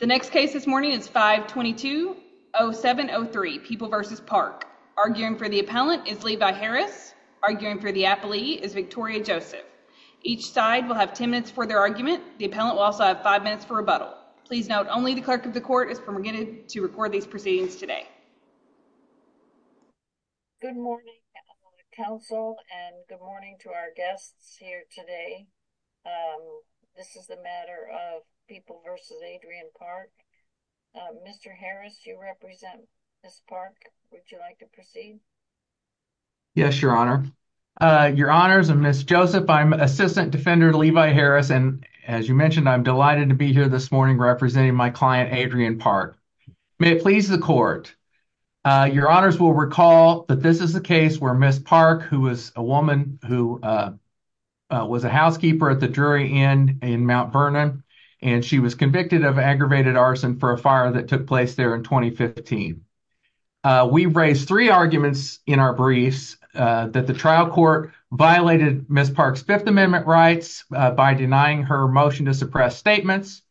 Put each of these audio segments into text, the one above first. The next case this morning is 522-0703, People v. Parke. Arguing for the appellant is Levi Harris. Arguing for the appellee is Victoria Joseph. Each side will have ten minutes for their argument. The appellant will also have five minutes for rebuttal. Please note only the clerk of the court is permitted to record these proceedings today. Good morning, counsel, and good morning to our guests here today. This is the matter of People v. Adrian Parke. Mr. Harris, you represent Ms. Parke. Would you like to proceed? Yes, Your Honor. Your Honors, I'm Ms. Joseph. I'm Assistant Defender Levi Harris, and as you mentioned, I'm delighted to be here this morning representing my client, Adrian Parke. May it please the court, Your Honors will recall that this is the case where Ms. Parke, who was a woman who was a housekeeper at the Drury Inn in Mount Vernon, and she was convicted of aggravated arson for a fire that took place there in 2015. We've raised three arguments in our briefs that the trial court violated Ms. Parke's Fifth Amendment rights by denying her motion to suppress statements,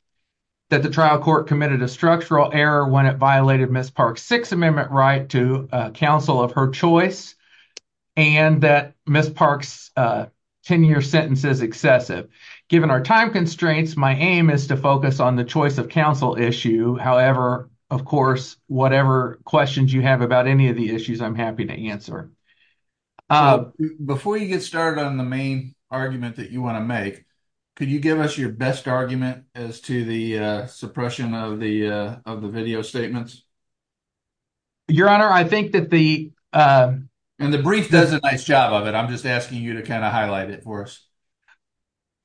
that the trial court committed a structural error when it violated Ms. Parke's Sixth Amendment right to counsel of her choice, and that Ms. Parke's 10-year sentence is excessive. Given our time constraints, my aim is to focus on the choice of counsel issue. However, of course, whatever questions you have about any of the issues, I'm happy to answer. Before you get started on the main argument that you want to make, could you give us your best argument as to the suppression of the video statements? Your Honor, I think that the... And the brief does a nice job of it. I'm just asking you to kind of highlight it for us.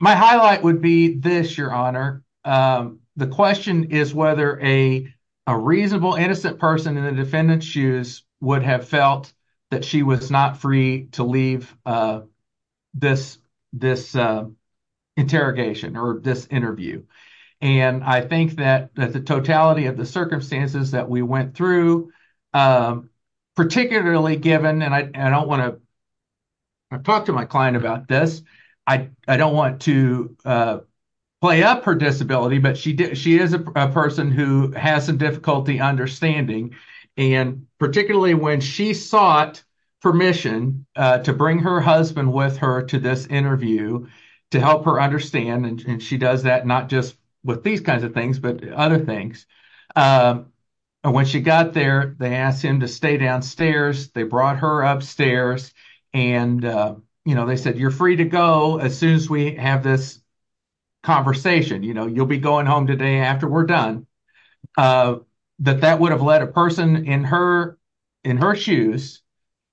My highlight would be this, Your Honor. The question is whether a reasonable, innocent person in the defendant's shoes would have felt that she was not free to leave this interrogation or this interview. And I think that the totality of the circumstances that we went through, particularly given, and I don't want to... I've talked to my client about this. I don't want to play up her disability, but she is a person who has some difficulty understanding. And particularly when she sought permission to bring her husband with her to this interview to help her understand, and she does that not just with these kinds of things, but other things. And when she got there, they asked him to stay downstairs. They brought her upstairs and they said, you're free to go as soon as we have this conversation. You'll be going home today after we're done. That that would have led a person in her shoes,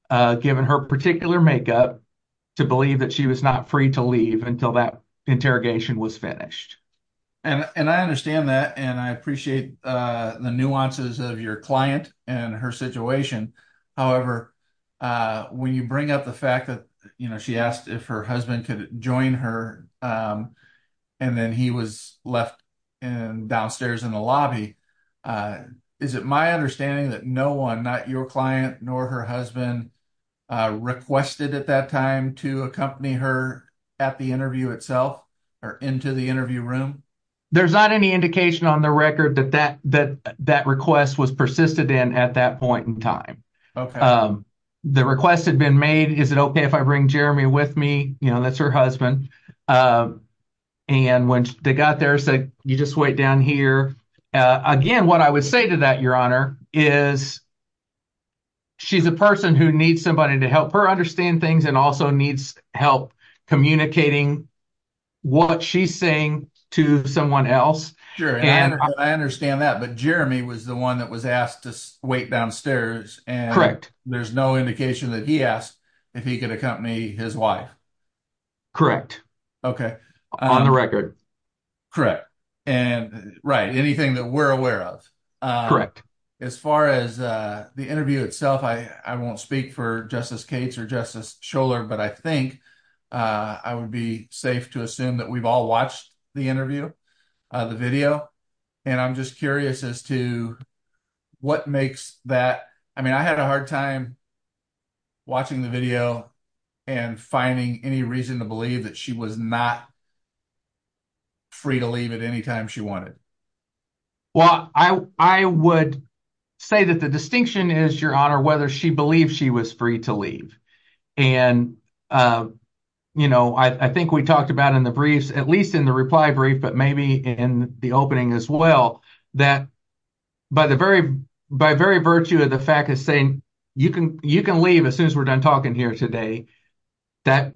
given her particular makeup, to believe that she was not free to leave until that interrogation was finished. And I understand that and I appreciate the nuances of your client and her situation. However, when you bring up the fact that she asked if her husband could join her and then he was left downstairs in the lobby, is it my understanding that no not your client nor her husband requested at that time to accompany her at the interview itself or into the interview room? There's not any indication on the record that that request was persisted in at that point in time. Okay. The request had been made, is it okay if I bring Jeremy with me? You know, that's her husband. And when they got there, you just wait down here. Again, what I would say to that, your honor, is she's a person who needs somebody to help her understand things and also needs help communicating what she's saying to someone else. Sure. And I understand that. But Jeremy was the one that was asked to wait downstairs and correct. There's no indication that he asked if he could accompany his wife. Correct. Okay. On the record. Correct. And right. Anything that we're aware of. Correct. As far as the interview itself, I won't speak for Justice Cates or Justice Scholar, but I think I would be safe to assume that we've all watched the interview, the video. And I'm just curious as to what makes that, I mean, I had a hard time watching the video and finding any reason to believe that she was not free to leave at any time she wanted. Well, I would say that the distinction is, your honor, whether she believed she was free to leave. And, you know, I think we talked about in the briefs, at least in the reply brief, but maybe in the opening as well, that by the very virtue of the fact of saying, you can leave as soon as we're done talking here today, that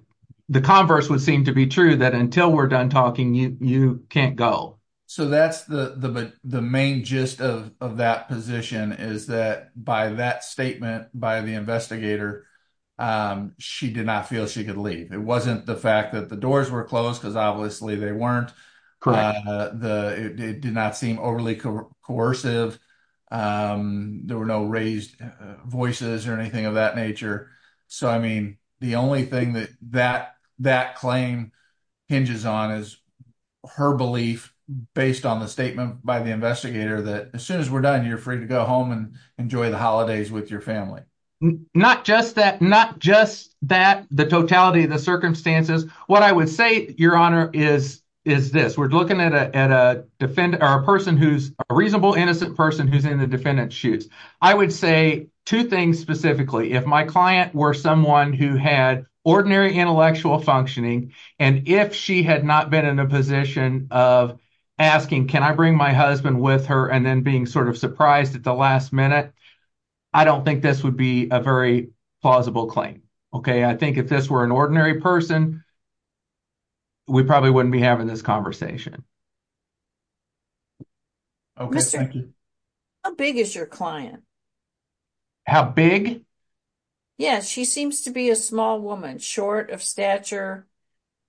the converse would seem to be true that until we're done talking, you can't go. So that's the main gist of that position is that by that statement by the investigator, she did not feel she could leave. It wasn't the fact that the doors were closed, because obviously they weren't. It did not seem overly coercive. There were no raised voices or anything of that nature. So, I mean, the only thing that that claim hinges on is her belief based on the statement by the investigator that as soon as we're done, you're free to go home and enjoy the holidays with your family. Not just that, the totality of the circumstances. What I would say, your honor, is this. We're looking at a person who's a reasonable, innocent person who's in the defendant's shoes. I would say two things specifically. If my client were someone who had ordinary intellectual functioning, and if she had not been in a position of asking, can I bring my husband with her, and then being sort of surprised at the last minute, I don't think this would be a very plausible claim. Okay. I think if this were an ordinary person, we probably wouldn't be having this conversation. Okay. How big is your client? How big? Yeah, she seems to be a small woman, short of stature.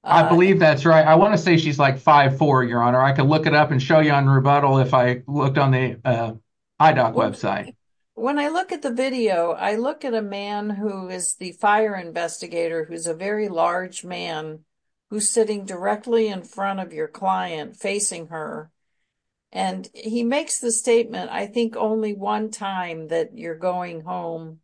I believe that's right. I want to say she's like 5'4", your honor. I could look it up and show you on Rebuttal if I looked on the website. When I look at the video, I look at a man who is the fire investigator, who's a very large man, who's sitting directly in front of your client, facing her, and he makes the statement, I think, only one time that you're going home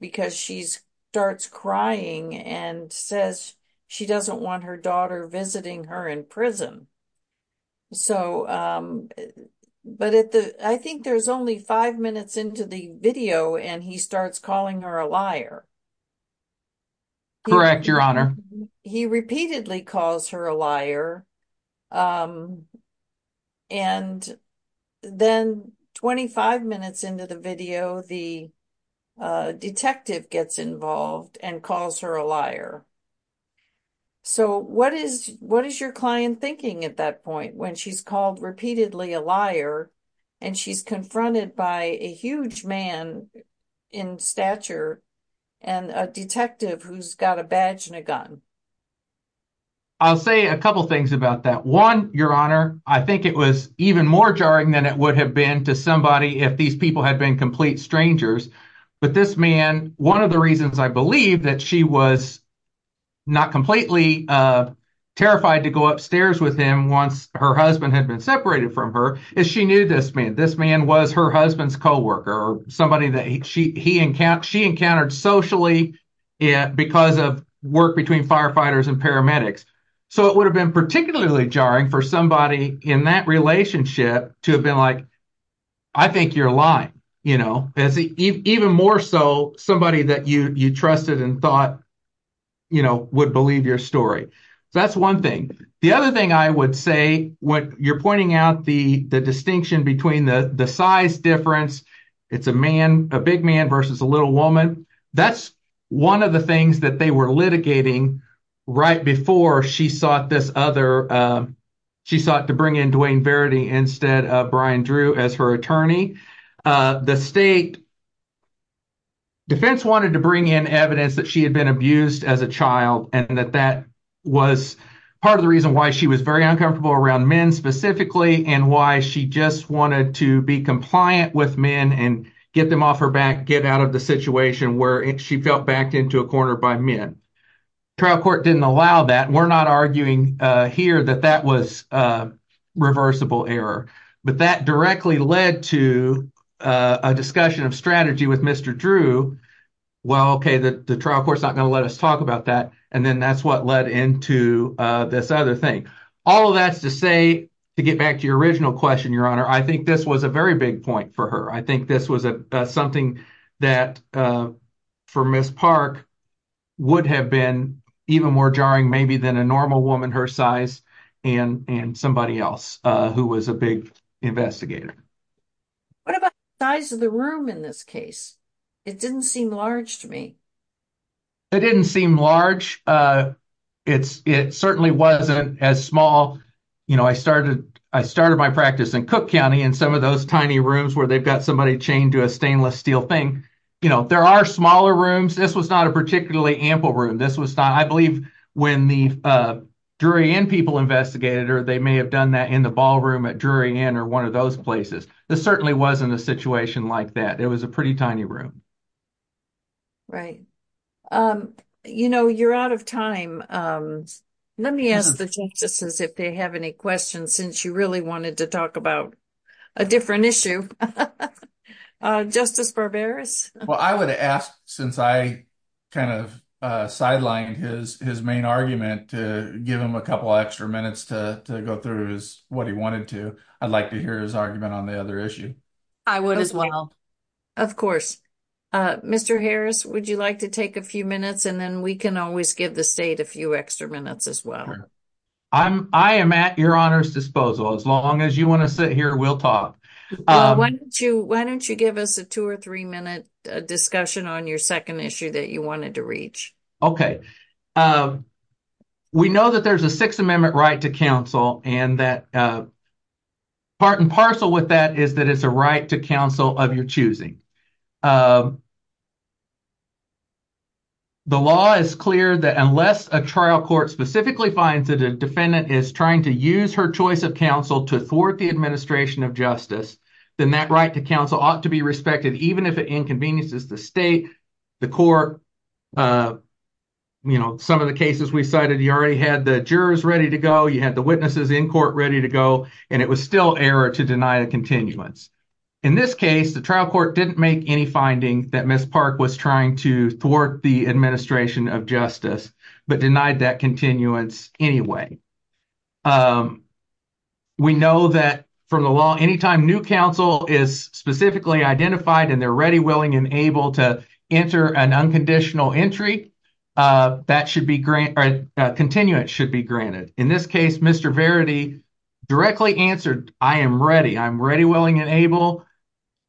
because she starts crying and says she doesn't want her daughter visiting her in prison. But I think there's only five minutes into the video, and he starts calling her a liar. Correct, your honor. He repeatedly calls her a liar, and then 25 minutes into the video, the detective gets involved and calls her a liar. So what is your client thinking at that point when she's called repeatedly a liar and she's confronted by a huge man in stature and a detective who's got a badge and a gun? I'll say a couple things about that. One, your honor, I think it was even more jarring than it would have been to somebody if these people had been complete strangers. But this man, one of the reasons I believe that she was not completely terrified to go upstairs with him once her husband had been separated from her is she knew this man. This man was her husband's co-worker or somebody that she encountered socially because of work between firefighters and paramedics. So it would have been particularly jarring for somebody in that relationship to have I think you're lying. Even more so, somebody that you trusted and thought would believe your story. That's one thing. The other thing I would say, when you're pointing out the distinction between the size difference, it's a man, a big man versus a little woman, that's one of the things that they were litigating right before she sought to bring in Dwayne Verity instead of Brian Drew as her attorney. The state defense wanted to bring in evidence that she had been abused as a child and that that was part of the reason why she was very uncomfortable around men specifically and why she just wanted to be compliant with men and get them off her back, get out of the situation where she felt backed into a corner by men. Trial court didn't allow that. We're not arguing here that that was a reversible error, but that directly led to a discussion of strategy with Mr. Drew. Well, okay, the trial court's not going to let us talk about that. And then that's what led into this other thing. All of that's to say, to get back to your original question, your honor, I think this was a very big point for her. I think this was something that for Ms. Park would have been even more jarring maybe than a normal woman her size and somebody else who was a big investigator. What about the size of the room in this case? It didn't seem large to me. It didn't seem large. It certainly wasn't as small. I started my practice in Cook County and some of those tiny rooms where they've got somebody chained to a stainless steel thing. There are smaller rooms. This was not a particularly ample room. I believe when the Drury Inn people investigated her, they may have done that in the ballroom at Drury Inn or one of those places. This certainly wasn't a situation like that. It was a pretty tiny room. Right. You're out of time. Let me ask the justices if they have any questions since you wanted to talk about a different issue. Justice Barberis? I would ask since I sidelined his main argument to give him a couple extra minutes to go through what he wanted to. I'd like to hear his argument on the other issue. I would as well. Of course. Mr. Harris, would you like to take a few minutes and then we can always give the state a few extra minutes as I am at your honor's disposal. As long as you want to sit here, we'll talk. Why don't you give us a two or three minute discussion on your second issue that you wanted to reach? Okay. We know that there's a Sixth Amendment right to counsel and that part and parcel with that is that it's a right to counsel of your choosing. The law is clear that unless a trial court specifically finds that a defendant is trying to use her choice of counsel to thwart the administration of justice, then that right to counsel ought to be respected even if it inconveniences the state, the court. Some of the cases we cited, you already had the jurors ready to go, you had the witnesses in court ready to go, and it was still error to deny a continuance. In this case, the trial court didn't make any finding that Ms. Park was trying to thwart the administration of justice, but denied that continuance anyway. We know that from the law, anytime new counsel is specifically identified and they're ready, willing, and able to enter an unconditional entry, continuance should be granted. In this case, Mr. Verity directly answered, I am ready, I'm ready, willing, and able,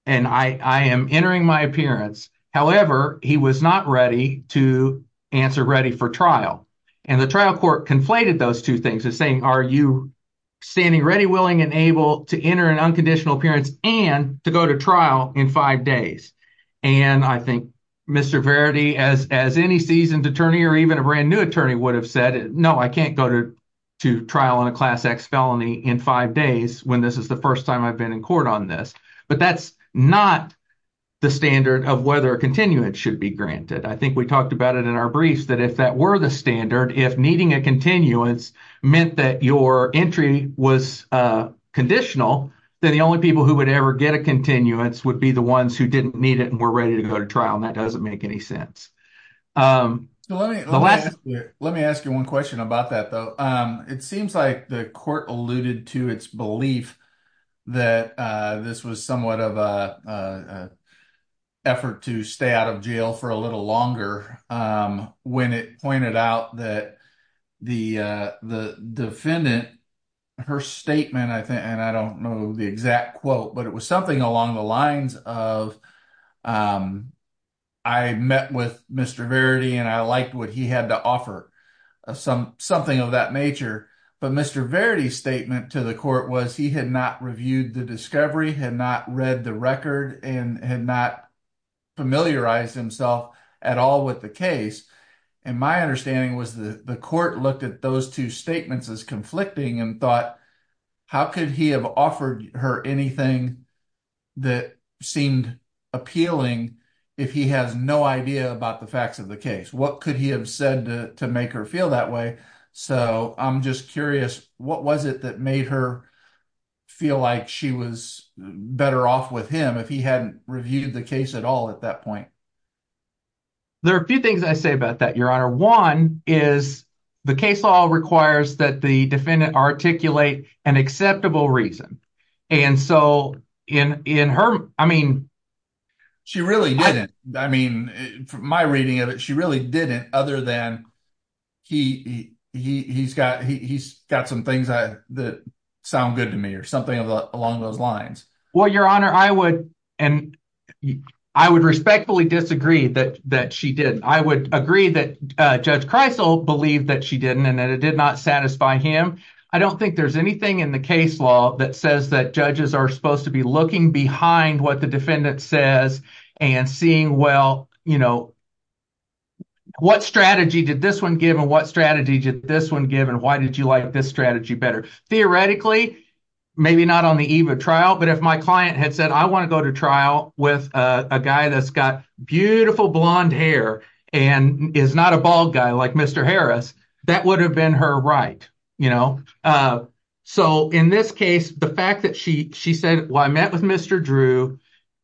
and I am entering my appearance. However, he was not ready to answer ready for trial. The trial court conflated those two things and saying, are you standing ready, willing, and able to enter an unconditional appearance and to go to trial in five days? I think Mr. Verity, as any seasoned attorney or even a brand new attorney would have said, no, I can't go to trial on a class X felony in five days when this is the first time I've been in court on this, but that's not the standard of whether a continuance should be granted. I think we talked about it in our briefs that if that were the standard, if needing a continuance meant that your entry was conditional, then the only people who would ever get a continuance would be the ones who didn't need it and were ready to go to trial, and that doesn't make any sense. Let me ask you one question about that, though. It seems like the court alluded to its belief that this was somewhat of an effort to stay out of jail for a little longer when it pointed out that the defendant, her statement, I think, and I don't know the exact quote, but it was along the lines of, I met with Mr. Verity and I liked what he had to offer, something of that nature, but Mr. Verity's statement to the court was he had not reviewed the discovery, had not read the record, and had not familiarized himself at all with the case, and my understanding was that the court looked at those two statements as conflicting and thought, how could he have offered her anything that seemed appealing if he has no idea about the facts of the case? What could he have said to make her feel that way? So I'm just curious, what was it that made her feel like she was better off with him if he hadn't reviewed the case at all at that point? There are a few things I say about that, Your Honor. One is the case law requires that the defendant articulate an acceptable reason, and so in her, I mean... She really didn't. I mean, from my reading of it, she really didn't other than he's got some things that sound good to me or something along those lines. Well, Your Honor, I would respectfully disagree that she didn't. I would agree that Judge Geisel believed that she didn't and that it did not satisfy him. I don't think there's anything in the case law that says that judges are supposed to be looking behind what the defendant says and seeing, well, you know, what strategy did this one give and what strategy did this one give and why did you like this strategy better? Theoretically, maybe not on the eve of trial, but if my client had said, I want to go to trial with a guy that's got beautiful blonde hair and is not a bald guy like Mr. Harris, that would have been her right. So in this case, the fact that she said, well, I met with Mr. Drew,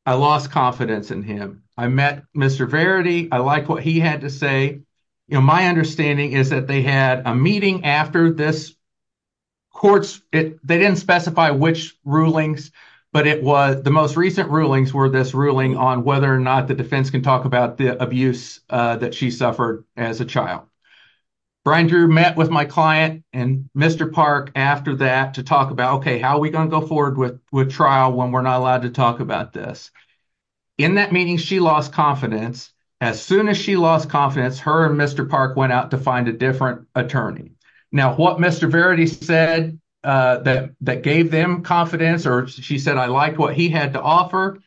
I lost confidence in him. I met Mr. Verity. I like what he had to say. My understanding is that they had a meeting after this court. They didn't specify which rulings, but the most recent rulings were this ruling on whether or not the defense can talk about the abuse that she suffered as a child. Brian Drew met with my client and Mr. Park after that to talk about, okay, how are we going to go forward with trial when we're not allowed to talk about this? In that meeting, she lost confidence. As soon as she lost confidence, her and Mr. Park went out to find a different attorney. Now, what Mr. Verity said that gave them confidence, or she said, I liked what he had to offer,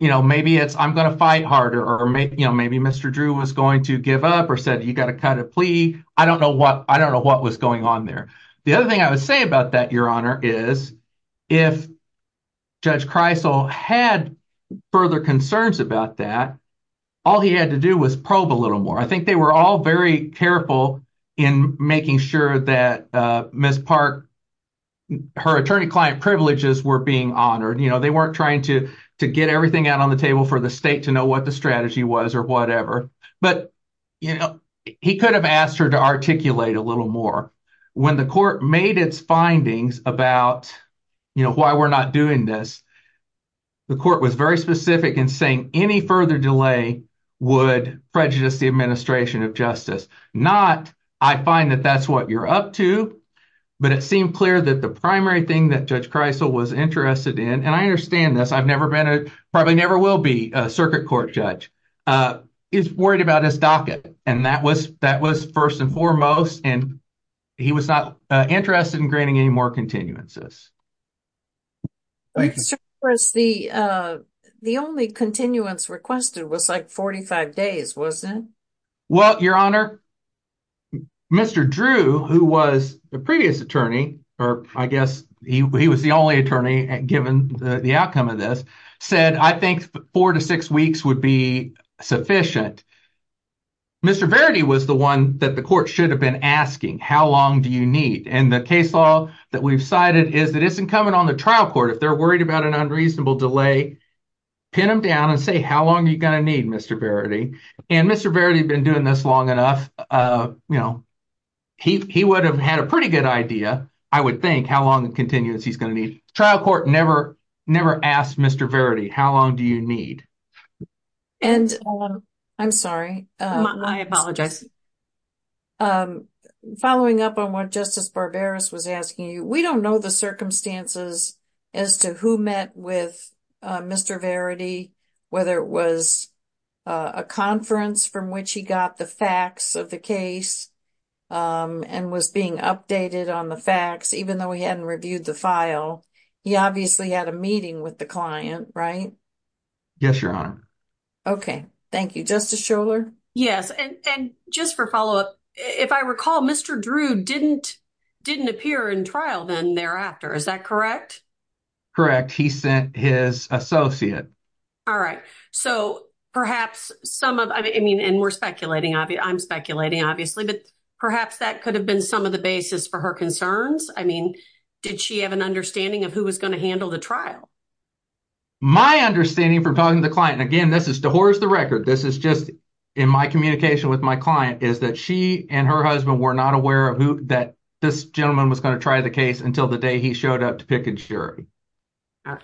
maybe it's, I'm going to fight harder, or maybe Mr. Drew was going to give up or said, you got to cut a plea. I don't know what was going on there. The other thing I would say about that, Your Honor, is if Judge Kreisel had further concerns about that, all he had to do was probe a little more. I think they were all very careful in making sure that Ms. Park, her attorney-client privileges were being honored. They weren't trying to get everything out on the table for the state to know what the strategy was or whatever. He could have asked her to articulate a little more. When the court made its findings about why we're not doing this, the court was very specific in saying any further delay would prejudice the administration of justice. Not, I find that that's what you're up to, but it seemed clear that the primary thing that Judge Kreisel was interested in, and I understand this, I've never been a, probably never will be a circuit court judge, is worried about his docket. That was first and foremost, and he was not interested in granting any more continuances. The only continuance requested was like 45 days, wasn't it? Your Honor, Mr. Drew, who was the previous attorney, or I guess he was the only attorney given the outcome of this, said, I think four to six weeks would be sufficient. Mr. Verity was the one that the court should have been asking, how long do you need? The case law that we've cited is that it's incumbent on the trial court, if they're worried about an unreasonable delay, pin them down and say, how long are you going to need, Mr. Verity? Mr. Verity had been doing this long enough. He would have had a pretty good idea, I would think, how long of continuance he's going to need. Trial court never asked Mr. Verity, how long do you need? And I'm sorry. I apologize. Following up on what Justice Barberos was asking you, we don't know the circumstances as to who met with Mr. Verity, whether it was a conference from which he got the facts of the case and was being updated on the facts, even though he hadn't reviewed the file. He obviously had a meeting with the client, right? Yes, Your Honor. Okay. Thank you. Justice Shuler? Yes. And just for follow-up, if I recall, Mr. Drew didn't appear in trial then thereafter, is that correct? Correct. He sent his associate. All right. So perhaps some of, I mean, and we're speculating, I'm speculating, obviously, but perhaps that could have been some of the basis for her concerns. I mean, did she have an understanding of who was going to handle the trial? My understanding from talking to the client, and again, this is to horse the record, this is just in my communication with my client, is that she and her husband were not aware of who, that this gentleman was going to try the case until the day he showed up to pick and sherry. All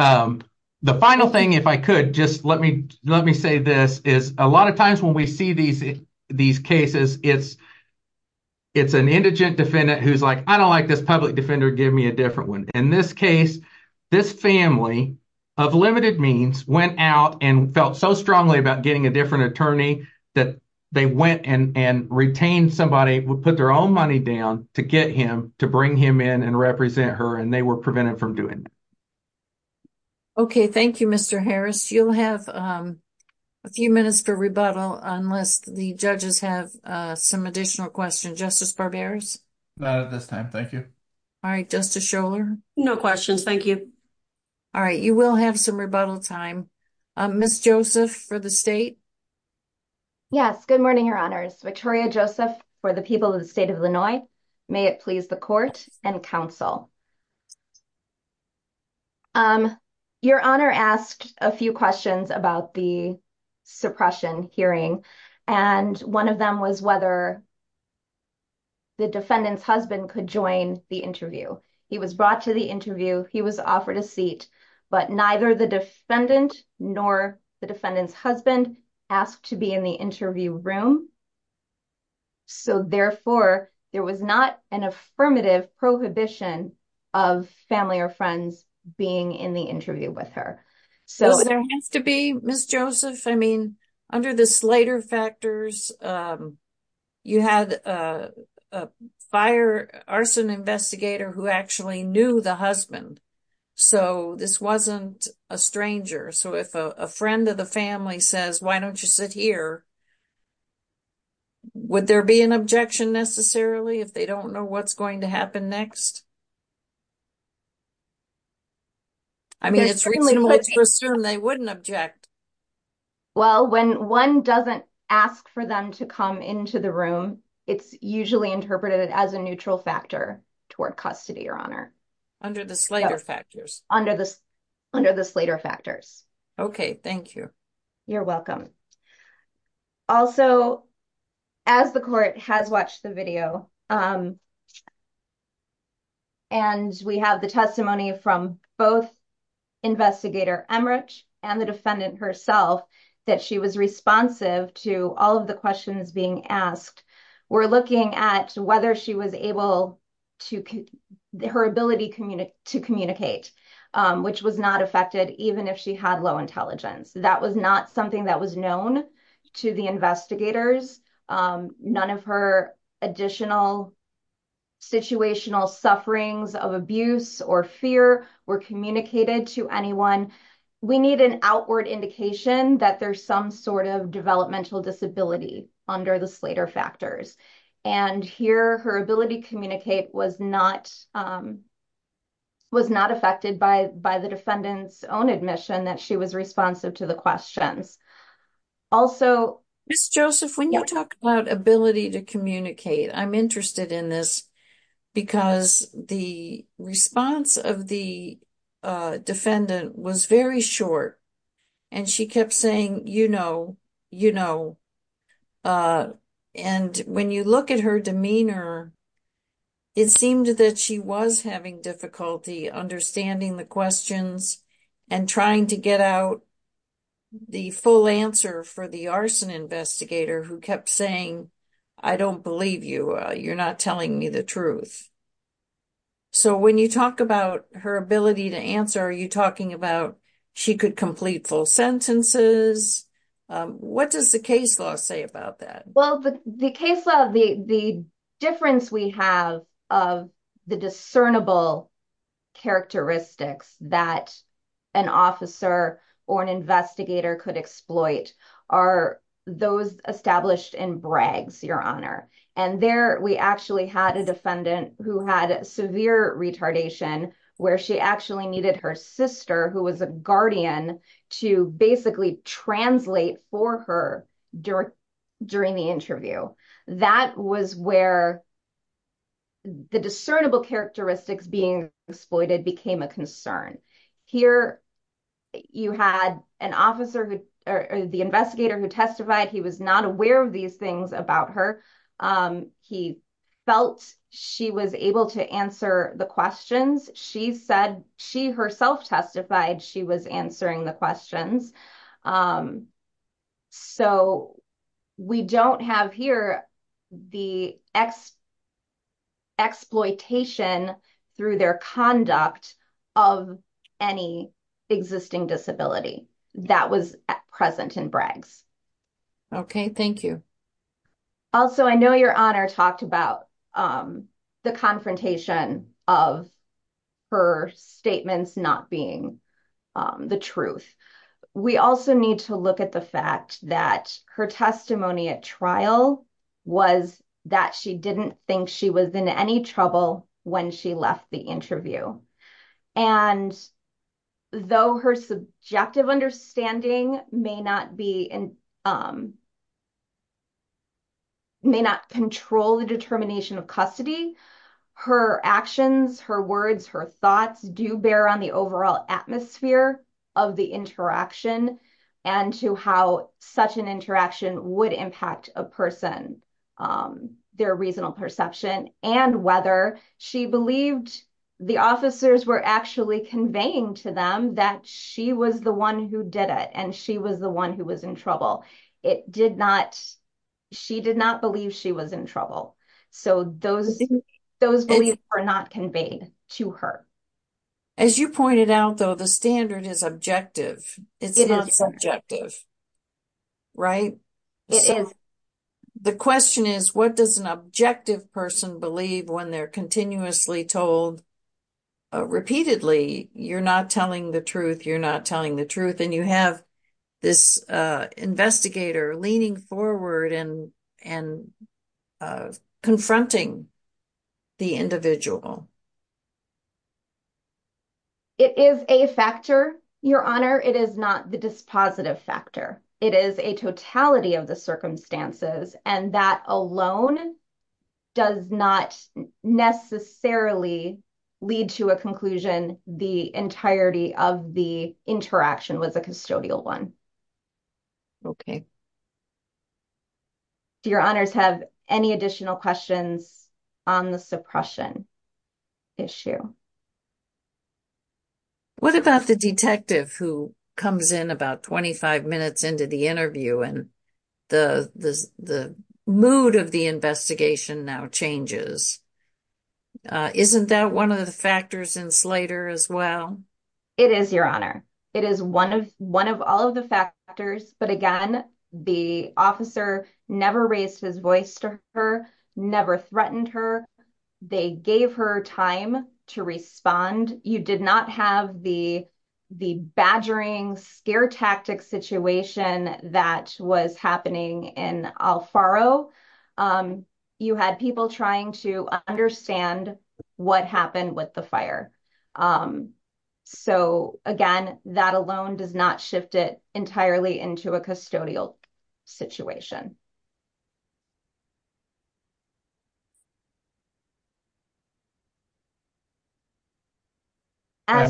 right. The final thing, if I could, just let me say this, is a lot of times when we see these cases, it's an indigent defendant who's like, I don't like this public defender, give me a different one. In this case, this family of limited means went out and felt so strongly about getting a different attorney that they went and retained somebody, put their own money down to get him, to bring him in and represent her, and they were prevented from doing that. Okay. Thank you, Mr. Harris. You'll have a few minutes for rebuttal, unless the judges have some additional questions. Justice Barberas? Not at this time. Thank you. All right. Justice Scholar? No questions. Thank you. All right. You will have some rebuttal time. Ms. Joseph for the state? Yes. Good morning, Your Honors. Victoria Joseph for the people of the state of Illinois. May it please the court and counsel. Your Honor asked a few questions about the suppression hearing, and one of them was whether the defendant's husband could join the interview. He was brought to the interview, he was offered a seat, but neither the defendant nor the defendant's husband asked to be in the interview room. So, therefore, there was not an affirmative prohibition that the defendant of family or friends being in the interview with her. So, there has to be, Ms. Joseph. I mean, under the Slater factors, you had a fire arson investigator who actually knew the husband. So, this wasn't a stranger. So, if a friend of the family says, why don't you sit here, would there be an objection necessarily if they don't know what's going to happen next? I mean, it's reasonable to assume they wouldn't object. Well, when one doesn't ask for them to come into the room, it's usually interpreted as a neutral factor toward custody, Your Honor. Under the Slater factors? Under the Slater factors. Okay. Thank you. You're welcome. Also, as the court has watched the video, and we have the testimony from both Investigator Emmerich and the defendant herself, that she was responsive to all of the questions being asked. We're looking at whether she was able to, her ability to communicate, which was not affected even if she had low intelligence. That was not something that was known to the investigators. None of her additional situational sufferings of abuse or fear were communicated to anyone. We need an outward indication that there's some sort of developmental disability under the Slater factors. And here, her ability to communicate was not affected by the defendant's own admission that she was responsive to the questions. Also- I'm interested in this because the response of the defendant was very short, and she kept saying, you know, you know. And when you look at her demeanor, it seemed that she was having difficulty understanding the questions and trying to get out the full answer for the arson investigator who kept saying, I don't believe you, you're not telling me the truth. So when you talk about her ability to answer, are you talking about she could complete full sentences? What does the case law say about that? Well, the case law, the difference we have of the discernible characteristics that an officer or an investigator could exploit are those established in Bragg's, Your Honor. And there, we actually had a defendant who had severe retardation, where she actually needed her sister, who was a guardian, to basically translate for her during the interview. That was where the discernible characteristics were. The investigator who testified, he was not aware of these things about her. He felt she was able to answer the questions. She said she herself testified she was answering the questions. So we don't have here the exploitation through their conduct of any existing disability that was present in Bragg's. Okay. Thank you. Also, I know Your Honor talked about the confrontation of her statements not being the truth. We also need to look at the fact that her testimony at trial was that she didn't think she was in any trouble when she left the interview. And though her subjective understanding may not control the determination of custody, her actions, her words, her thoughts do bear on the overall atmosphere of the interaction and to how such an interaction would impact a person, their reasonable perception, and whether she believed the officers were actually conveying to them that she was the one who did it and she was the one who was in trouble. She did not believe she was in trouble. So those beliefs were not conveyed to her. As you pointed out, though, the standard is objective. It's not subjective. Right? It is. The question is, what does an objective person believe when they're continuously told repeatedly, you're not telling the truth, you're not telling the truth, and you have this investigator leaning forward and confronting the individual? It is a factor, Your Honor. It is not the dispositive factor. It is a totality of the circumstances, and that alone does not necessarily lead to a conclusion the entirety of the interaction was a custodial one. Do Your Honors have any additional questions on the suppression? Issue. What about the detective who comes in about 25 minutes into the interview and the mood of the investigation now changes? Isn't that one of the factors in Slater as well? It is, Your Honor. It is one of all of the factors. But again, the officer never raised his voice to her, never threatened her. They gave her time to respond. You did not have the badgering, scare tactic situation that was happening in Alfaro. You had people trying to understand what happened with the fire. So again, that alone does not shift it entirely into a custodial situation. I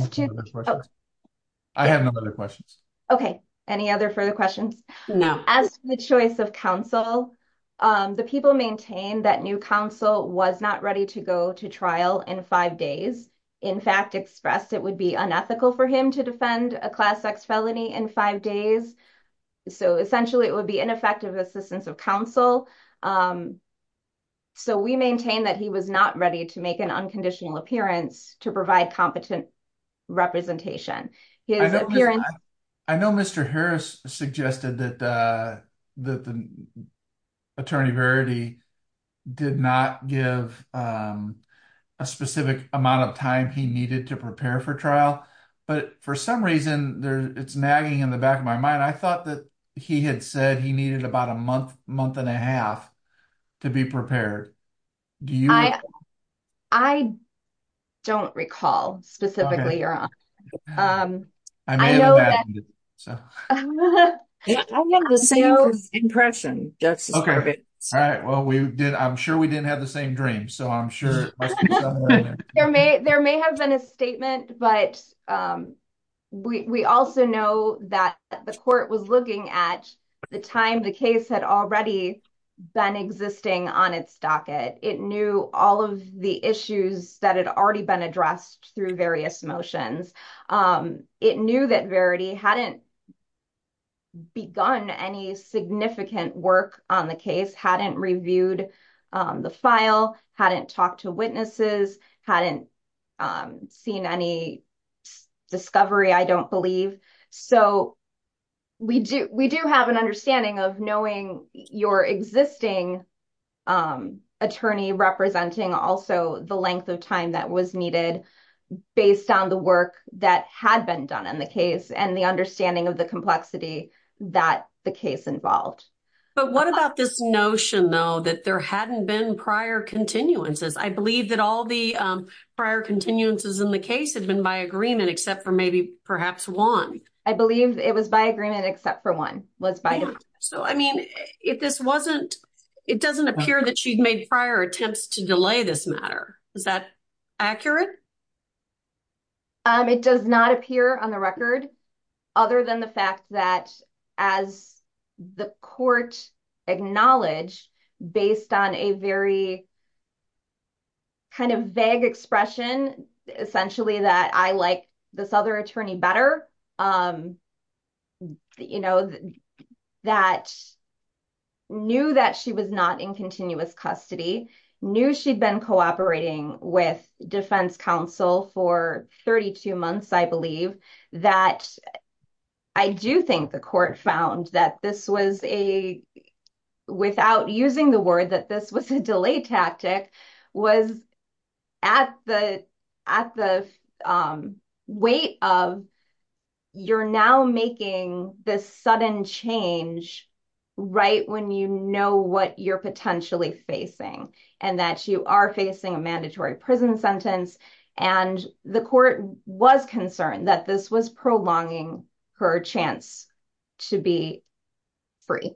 have no other questions. Okay. Any other further questions? No. As to the choice of counsel, the people maintained that new counsel was not ready to go to trial in five days. In fact, expressed it would be unethical for him to defend a class X felony in five days. So essentially, it would be ineffective assistance of counsel. So we maintain that he was not ready to make an unconditional appearance to provide competent representation. I know Mr. Harris suggested that the Attorney Verity did not give a specific amount of time he needed to prepare for trial. But for some reason, it's nagging in the back of my mind, I thought that he had said he needed about a month, month and a half to be prepared. I don't recall specifically, Your Honor. I may have imagined it, so. I have the same impression, Justice Corbett. All right. Well, I'm sure we didn't have the same dream. So I'm sure it must be somewhere in there. There may have been a statement, but we also know that the court was looking at the time the case had already been existing on its docket. It knew all of the issues that had already been addressed through various motions. It knew that Verity hadn't begun any significant work on the case, hadn't reviewed the file, hadn't talked to witnesses, hadn't seen any discovery, I don't believe. So we do have an understanding of knowing your existing attorney representing also the length of time that was needed based on the work that had been done and the understanding of the complexity that the case involved. But what about this notion, though, that there hadn't been prior continuances? I believe that all the prior continuances in the case had been by agreement except for maybe perhaps one. I believe it was by agreement except for one. So, I mean, if this wasn't, it doesn't appear that she'd made prior attempts to delay this matter. Is that accurate? It does not appear on the record, other than the fact that as the court acknowledged, based on a very kind of vague expression, essentially, that I like this other attorney better, that knew that she was not in continuous custody, knew she'd been cooperating with defense counsel for 32 months, I believe, that I do think the court found that this was a, without using the word, that this was a delay tactic, was at the weight of you're now making this sudden change right when you know what you're potentially facing and that you are a mandatory prison sentence. And the court was concerned that this was prolonging her chance to be free.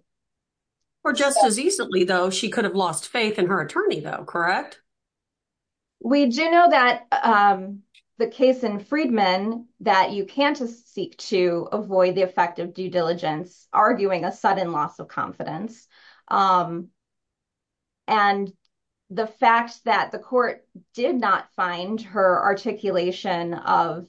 For just as easily, though, she could have lost faith in her attorney, though, correct? We do know that the case in Friedman, that you can't seek to avoid the effect of due diligence, arguing a sudden loss of confidence. And the fact that the court did not find her articulation of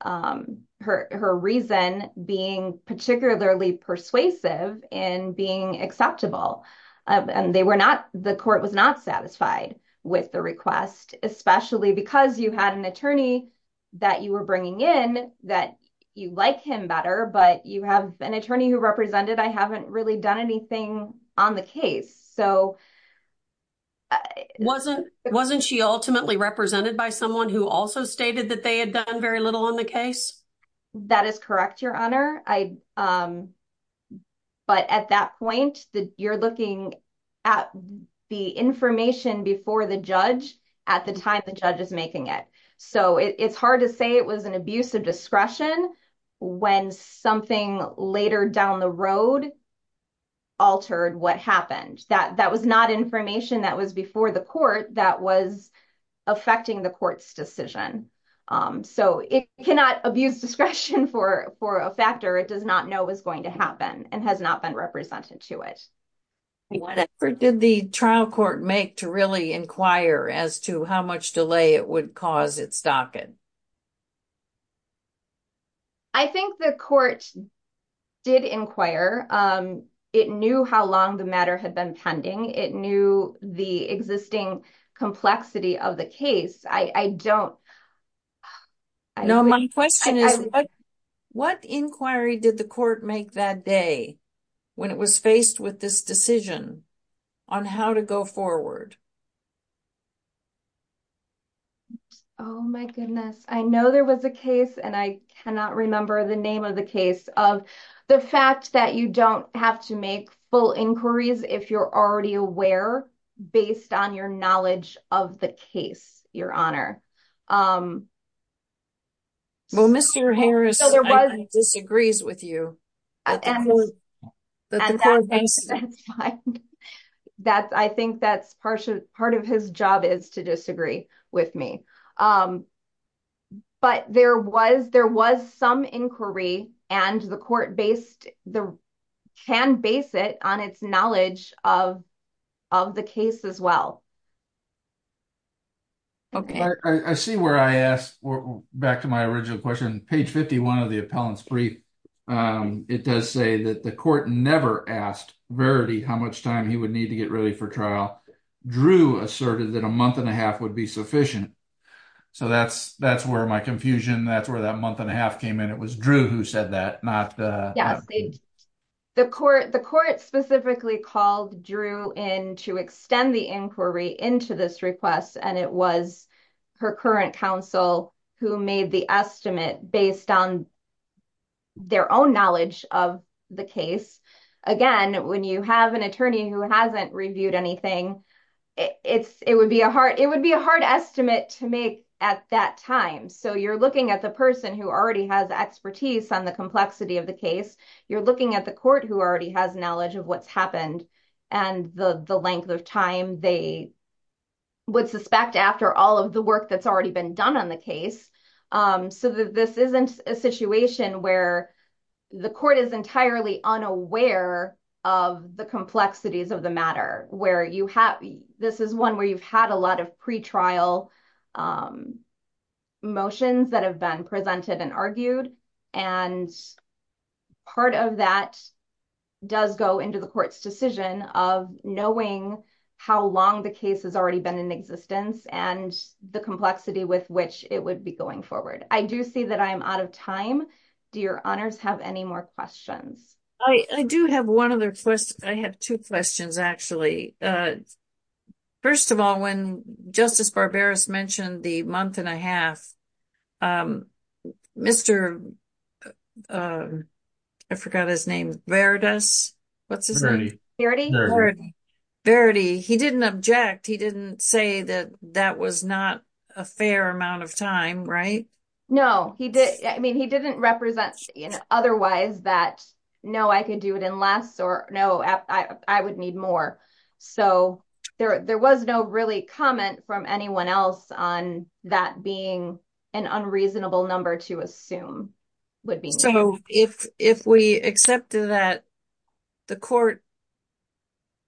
her reason being particularly persuasive in being acceptable, and they were not, the court was not satisfied with the request, especially because you had an attorney that you were bringing in that you like him better, but you have an attorney who represented, I haven't really done anything on the case, so. Wasn't she ultimately represented by someone who also stated that they had done very little on the case? That is correct, Your Honor. But at that point, you're looking at the information before the judge at the time the judge is making it. So it's hard to say it was an abuse of discretion when something later down the road altered what happened. That was not information that was before the court that was affecting the court's decision. So it cannot abuse discretion for a factor it does not know was going to happen and has not been represented to it. Whatever did the trial court make to really inquire as to how much delay it would cause its docket? I think the court did inquire. It knew how long the matter had been pending. It knew the existing complexity of the case. I don't know. My question is, what inquiry did the court make that day when it was faced with this decision on how to go forward? Oh, my goodness. I know there was a case, and I cannot remember the name of the case, of the fact that you don't have to make full inquiries if you're already aware based on your knowledge of the case, Your Honor. Well, Mr. Harris disagrees with you. And that's fine. I think that's part of his job is to disagree with me. But there was some inquiry and the court can base it on its knowledge of the case as well. Okay. I see where I asked back to my original question. Page 51 of the appellant's brief, it does say that the court never asked Verity how much time he would need to get ready for trial. Drew asserted that a month and a half would be sufficient. So that's where my confusion, that's where that month and a half came in. It was Drew who said that, not the- Yes. The court specifically called Drew in to extend the inquiry into this request, and it was her current counsel who made the estimate based on their own knowledge of the case. Again, when you have an attorney who hasn't reviewed anything, it would be a hard estimate to make at that time. So you're looking at the person who already has expertise on the complexity of the case. You're looking at the court who already has knowledge of what's happened and the length of time they would suspect after all of the work that's already been done on the case. So this isn't a situation where the court is entirely unaware of the complexities of the matter. This is one where you've had a lot of pretrial motions that have been presented and argued. And part of that does go into the court's decision of knowing how long the case has already been in existence and the complexity with which it would be going forward. I do see that I am out of time. Do your honors have any more questions? I do have one other question. I have two questions actually. First of all, when Justice Barberos mentioned the month and a half, Mr. Verdi, he didn't object. He didn't say that that was not a fair amount of time, right? No, he didn't. I mean, he didn't represent otherwise that, no, I could do it in less or I would need more. So there was no really comment from anyone else on that being an unreasonable number to assume would be. So if we accepted that the court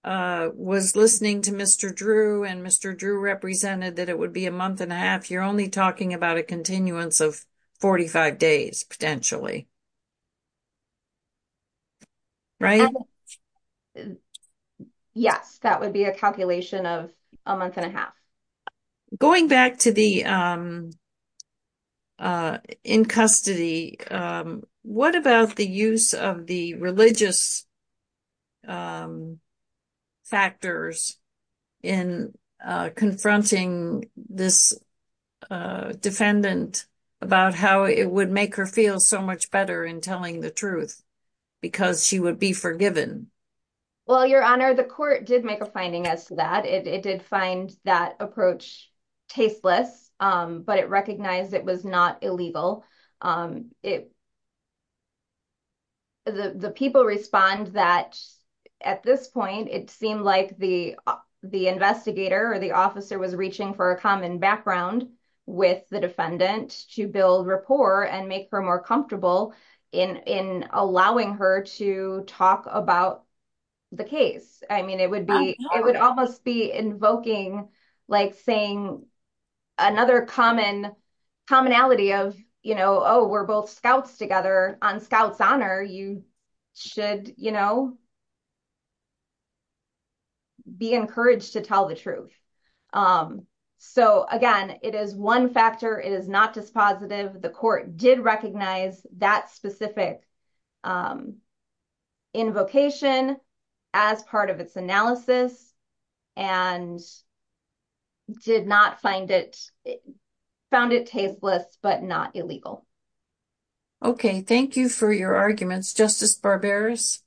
was listening to Mr. Drew and Mr. Drew represented that it would be a month and a half, you're only talking about a continuance of 45 days potentially, right? Yes, that would be a calculation of a month and a half. Going back to the in custody, what about the use of the religious factors in confronting this defendant about how it would make her feel so much better in telling the truth because she would be forgiven? Well, your honor, the court did make a finding as to that. It did find that approach tasteless, but it recognized it was not illegal. It, the people respond that at this point, it seemed like the investigator or the officer was reaching for a common background with the defendant to build rapport and make her more comfortable in allowing her to talk about the case. I mean, it would be, it would almost be invoking like saying another common commonality of, oh, we're both scouts together on scouts honor, you should be encouraged to tell the truth. So again, it is one factor, it is not dispositive. The court did recognize that specific invocation as part of its analysis and did not find it, found it tasteless, but not illegal. Okay. Thank you for your arguments. Justice Barbera's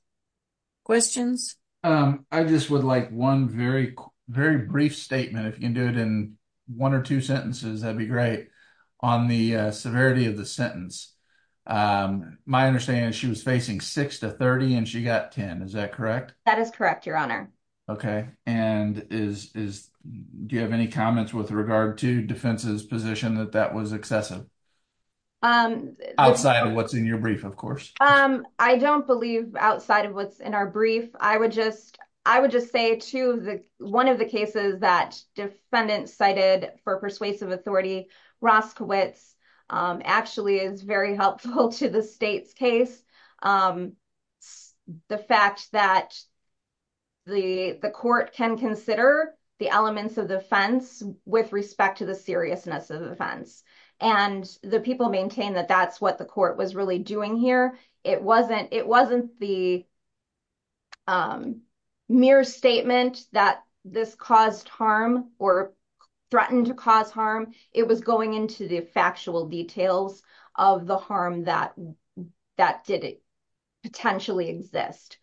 questions. I just would like one very, very brief statement. If you can do it in one or two sentences, that'd be great on the severity of the sentence. My understanding is she was facing six to 30 and she got 10. Is that correct? That is correct, your honor. Okay. And is, is, do you have any comments with regard to defense's position that that was excessive? Outside of what's in your brief, of course. I don't believe outside of what's in our brief. I would just, I would just say to the, one of the cases that defendants cited for persuasive authority, Roskowitz actually is very helpful to the state's case. The fact that the court can consider the elements of defense with respect to the seriousness of offense and the people maintain that that's what the court was really doing here. It wasn't, it wasn't the mere statement that this caused harm or threatened to cause harm. It was going into the factual details of the harm that, that did potentially exist.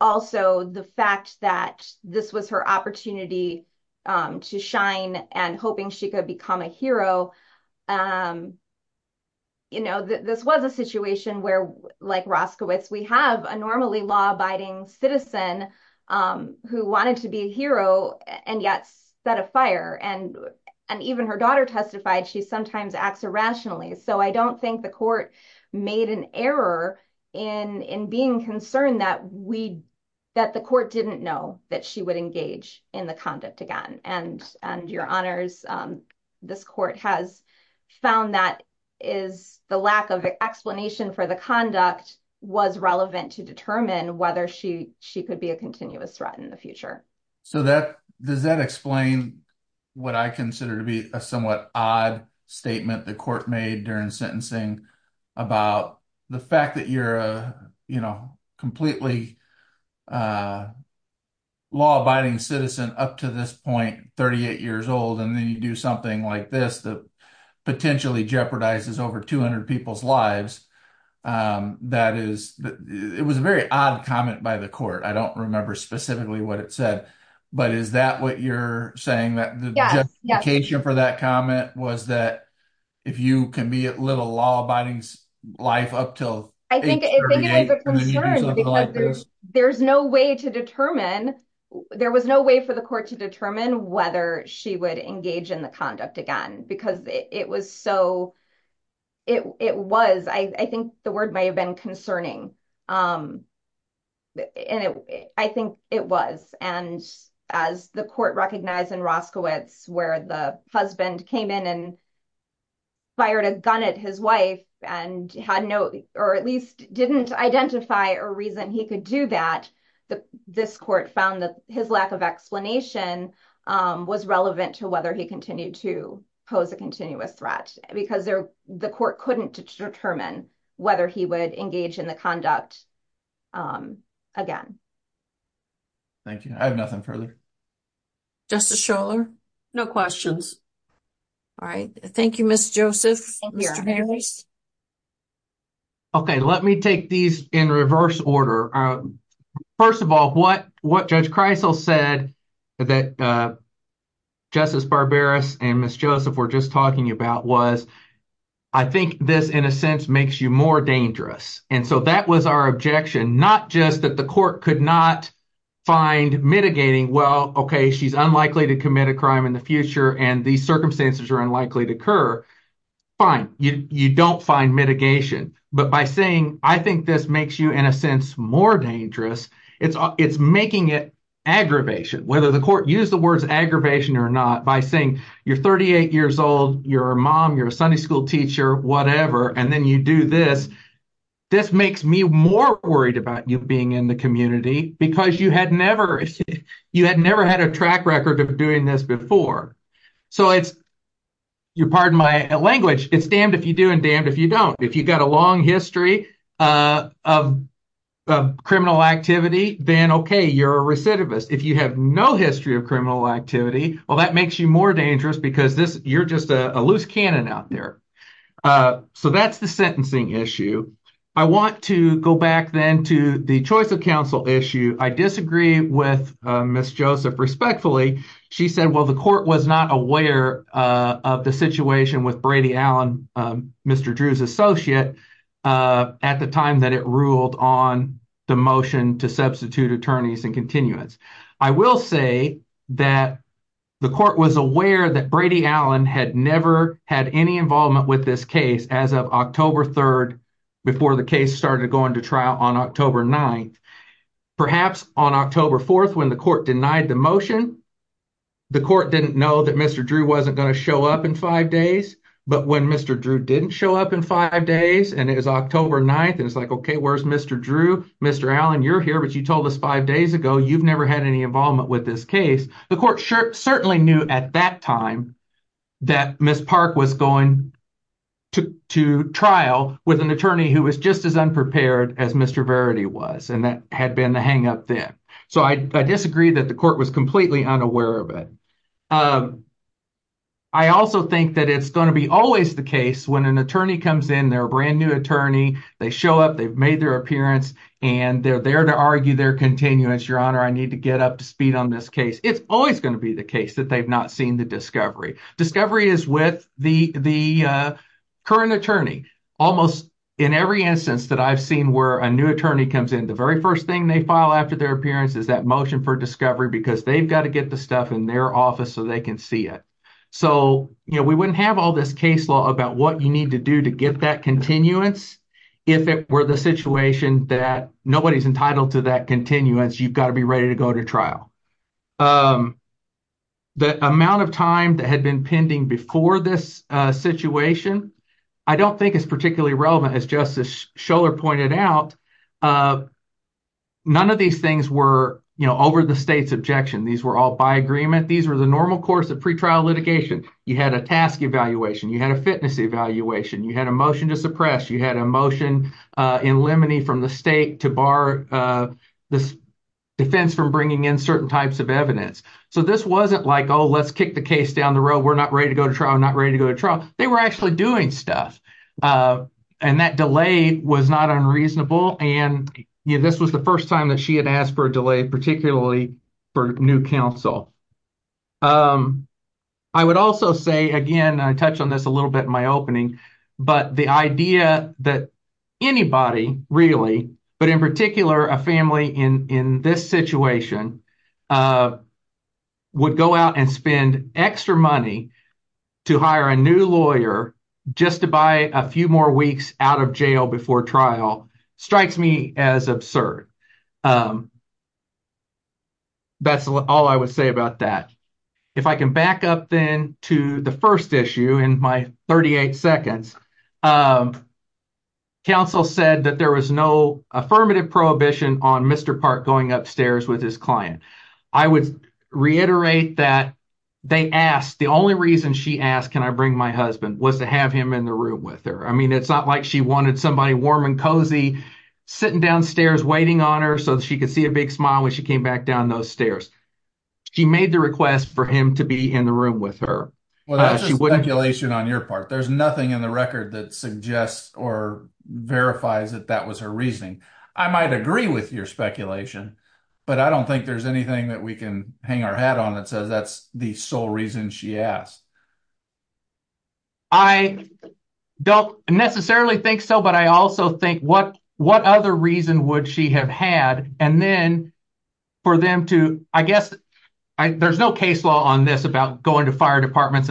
Also the fact that this was her opportunity to shine and hoping she could become a hero. You know, this was a situation where like Roskowitz, we have a normally law abiding citizen who wanted to be a hero and yet set a fire. And, and even her daughter testified, she sometimes acts irrationally. So I don't think the court made an error in, in being concerned that we, that the court didn't know that she would engage in the conduct again. And, and your honors this court has found that is the lack of explanation for the conduct was relevant to determine whether she, she could be a continuous threat in the future. So that, does that explain what I consider to be a somewhat odd statement the court made during sentencing about the fact that you're, you know, completely law abiding citizen up to this point, 38 years old. And then you do something like this that potentially jeopardizes over 200 people's lives. That is, it was a very odd comment by the court. I don't remember specifically what it said, but is that what you're saying that the justification for that comment was that if you can be a little law abiding life up till I think there's no way to determine, there was no way for the court to determine whether she would engage in the conduct again, because it was so it, it was, I think the word may have been concerning. And I think it was, and as the court recognized in Roskowitz, where the husband came in and fired a gun at his wife and had no, or at least didn't identify a reason he could do that. This court found that his lack of explanation was relevant to whether he continued to pose a continuous threat because the court couldn't determine whether he would engage in the conduct again. Thank you. I have nothing further. Justice Scholar, no questions. All right. Thank you, Ms. Joseph. Mr. Harris. Okay. Let me take these in reverse order. First of all, what, what Judge Kreisel said that Justice Barberos and Ms. Joseph were just talking about was, I think this in a sense makes you more dangerous. And so that was our objection, not just that the court could not find mitigating. Well, okay. She's unlikely to commit a crime in future and these circumstances are unlikely to occur. Fine. You, you don't find mitigation, but by saying, I think this makes you in a sense more dangerous, it's, it's making it aggravation, whether the court used the words aggravation or not, by saying you're 38 years old, you're a mom, you're a Sunday school teacher, whatever. And then you do this. This makes me more worried about you being in the community because you had never, you had never had a track record of doing this before. So it's, you pardon my language, it's damned if you do and damned if you don't. If you got a long history of criminal activity, then okay, you're a recidivist. If you have no history of criminal activity, well, that makes you more dangerous because this, you're just a loose cannon out there. So that's the sentencing issue. I want to go back then to the choice of counsel issue. I disagree with Ms. Joseph respectfully. She said, well, the court was not aware of the situation with Brady Allen, Mr. Drew's associate at the time that it ruled on the motion to substitute attorneys and continuance. I will say that the court was aware that Brady Allen had never had any involvement with this case as of October 3rd, before the case started going to on October 9th. Perhaps on October 4th, when the court denied the motion, the court didn't know that Mr. Drew wasn't going to show up in five days. But when Mr. Drew didn't show up in five days and it was October 9th, and it's like, okay, where's Mr. Drew? Mr. Allen, you're here, but you told us five days ago, you've never had any involvement with this case. The court certainly knew at that time that Ms. Park was going to trial with an attorney who was just as unprepared as Mr. Verity was, and that had been the hang up there. So I disagree that the court was completely unaware of it. I also think that it's going to be always the case when an attorney comes in, they're a brand new attorney, they show up, they've made their appearance, and they're there to argue their continuance. Your Honor, I need to get up to speed on this case. It's always going to be the case that they've not seen the discovery. Discovery is with the current attorney. Almost in every instance that I've seen where a new attorney comes in, the very first thing they file after their appearance is that motion for discovery because they've got to get the stuff in their office so they can see it. So we wouldn't have all this case law about what you need to do to get that continuance. If it were the situation that nobody's entitled to that continuance, you've got to be ready to go to trial. The amount of time that had been pending before this situation, I don't think it's particularly relevant as Justice Schoeller pointed out. None of these things were over the state's objection. These were all by agreement. These were the normal course of pretrial litigation. You had a task evaluation. You had a fitness evaluation. You had a motion to suppress. You had a motion in limine from the state to bar this defense from bringing in certain types of evidence. So this wasn't like, oh, let's kick the down the road. We're not ready to go to trial. I'm not ready to go to trial. They were actually doing stuff. And that delay was not unreasonable. And this was the first time that she had asked for a delay, particularly for new counsel. I would also say, again, I touched on this a little bit in my opening, but the idea that anybody really, but in particular, a family in this situation would go out and spend extra money to hire a new lawyer just to buy a few more weeks out of jail before trial strikes me as absurd. That's all I would say about that. If I can back up then to the first issue in my 38 seconds, counsel said that there was no prohibition on Mr. Park going upstairs with his client. I would reiterate that they asked, the only reason she asked, can I bring my husband was to have him in the room with her. I mean, it's not like she wanted somebody warm and cozy sitting downstairs waiting on her so she could see a big smile when she came back down those stairs. She made the request for him to be in the room with her. Well, that's just speculation on your part. There's nothing in the record that suggests or verifies that that was her reasoning. I might agree with your speculation, but I don't think there's anything that we can hang our hat on that says that's the sole reason she asked. I don't necessarily think so, but I also think what other reason would she have had and then for them to, I guess, there's no case law on this about going to fire to persist,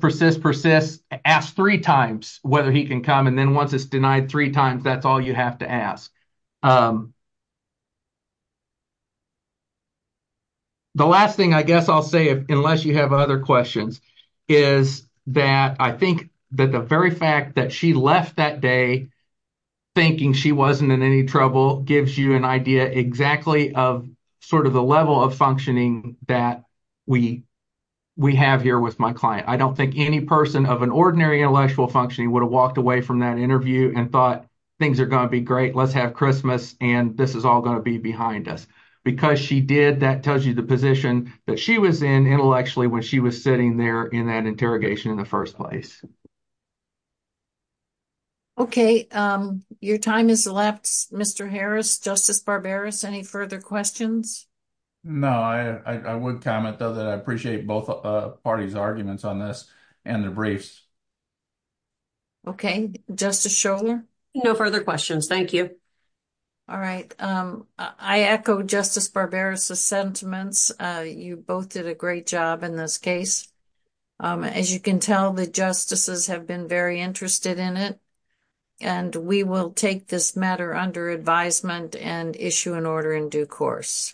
persist, persist, ask three times whether he can come, and then once it's denied three times, that's all you have to ask. The last thing I guess I'll say, unless you have other questions, is that I think that the very fact that she left that day thinking she wasn't in any trouble gives you an idea exactly of sort of the level of functioning that we have here with my client. I don't think any person of an ordinary intellectual functioning would have walked away from that interview and thought things are going to be great, let's have Christmas, and this is all going to be behind us. Because she did, that tells you the position that she was in intellectually when she was sitting there in that interrogation in the first place. Okay, your time is left, Mr. Harris. Justice Barberis, any further questions? No, I would comment though that I appreciate both parties' arguments on this and the briefs. Okay, Justice Scholar? No further questions, thank you. All right, I echo Justice Barberis' sentiments. You both did a great job in this case. As you can tell, the justices have been very interested in it, and we will take this matter under advisement and issue an order in due course.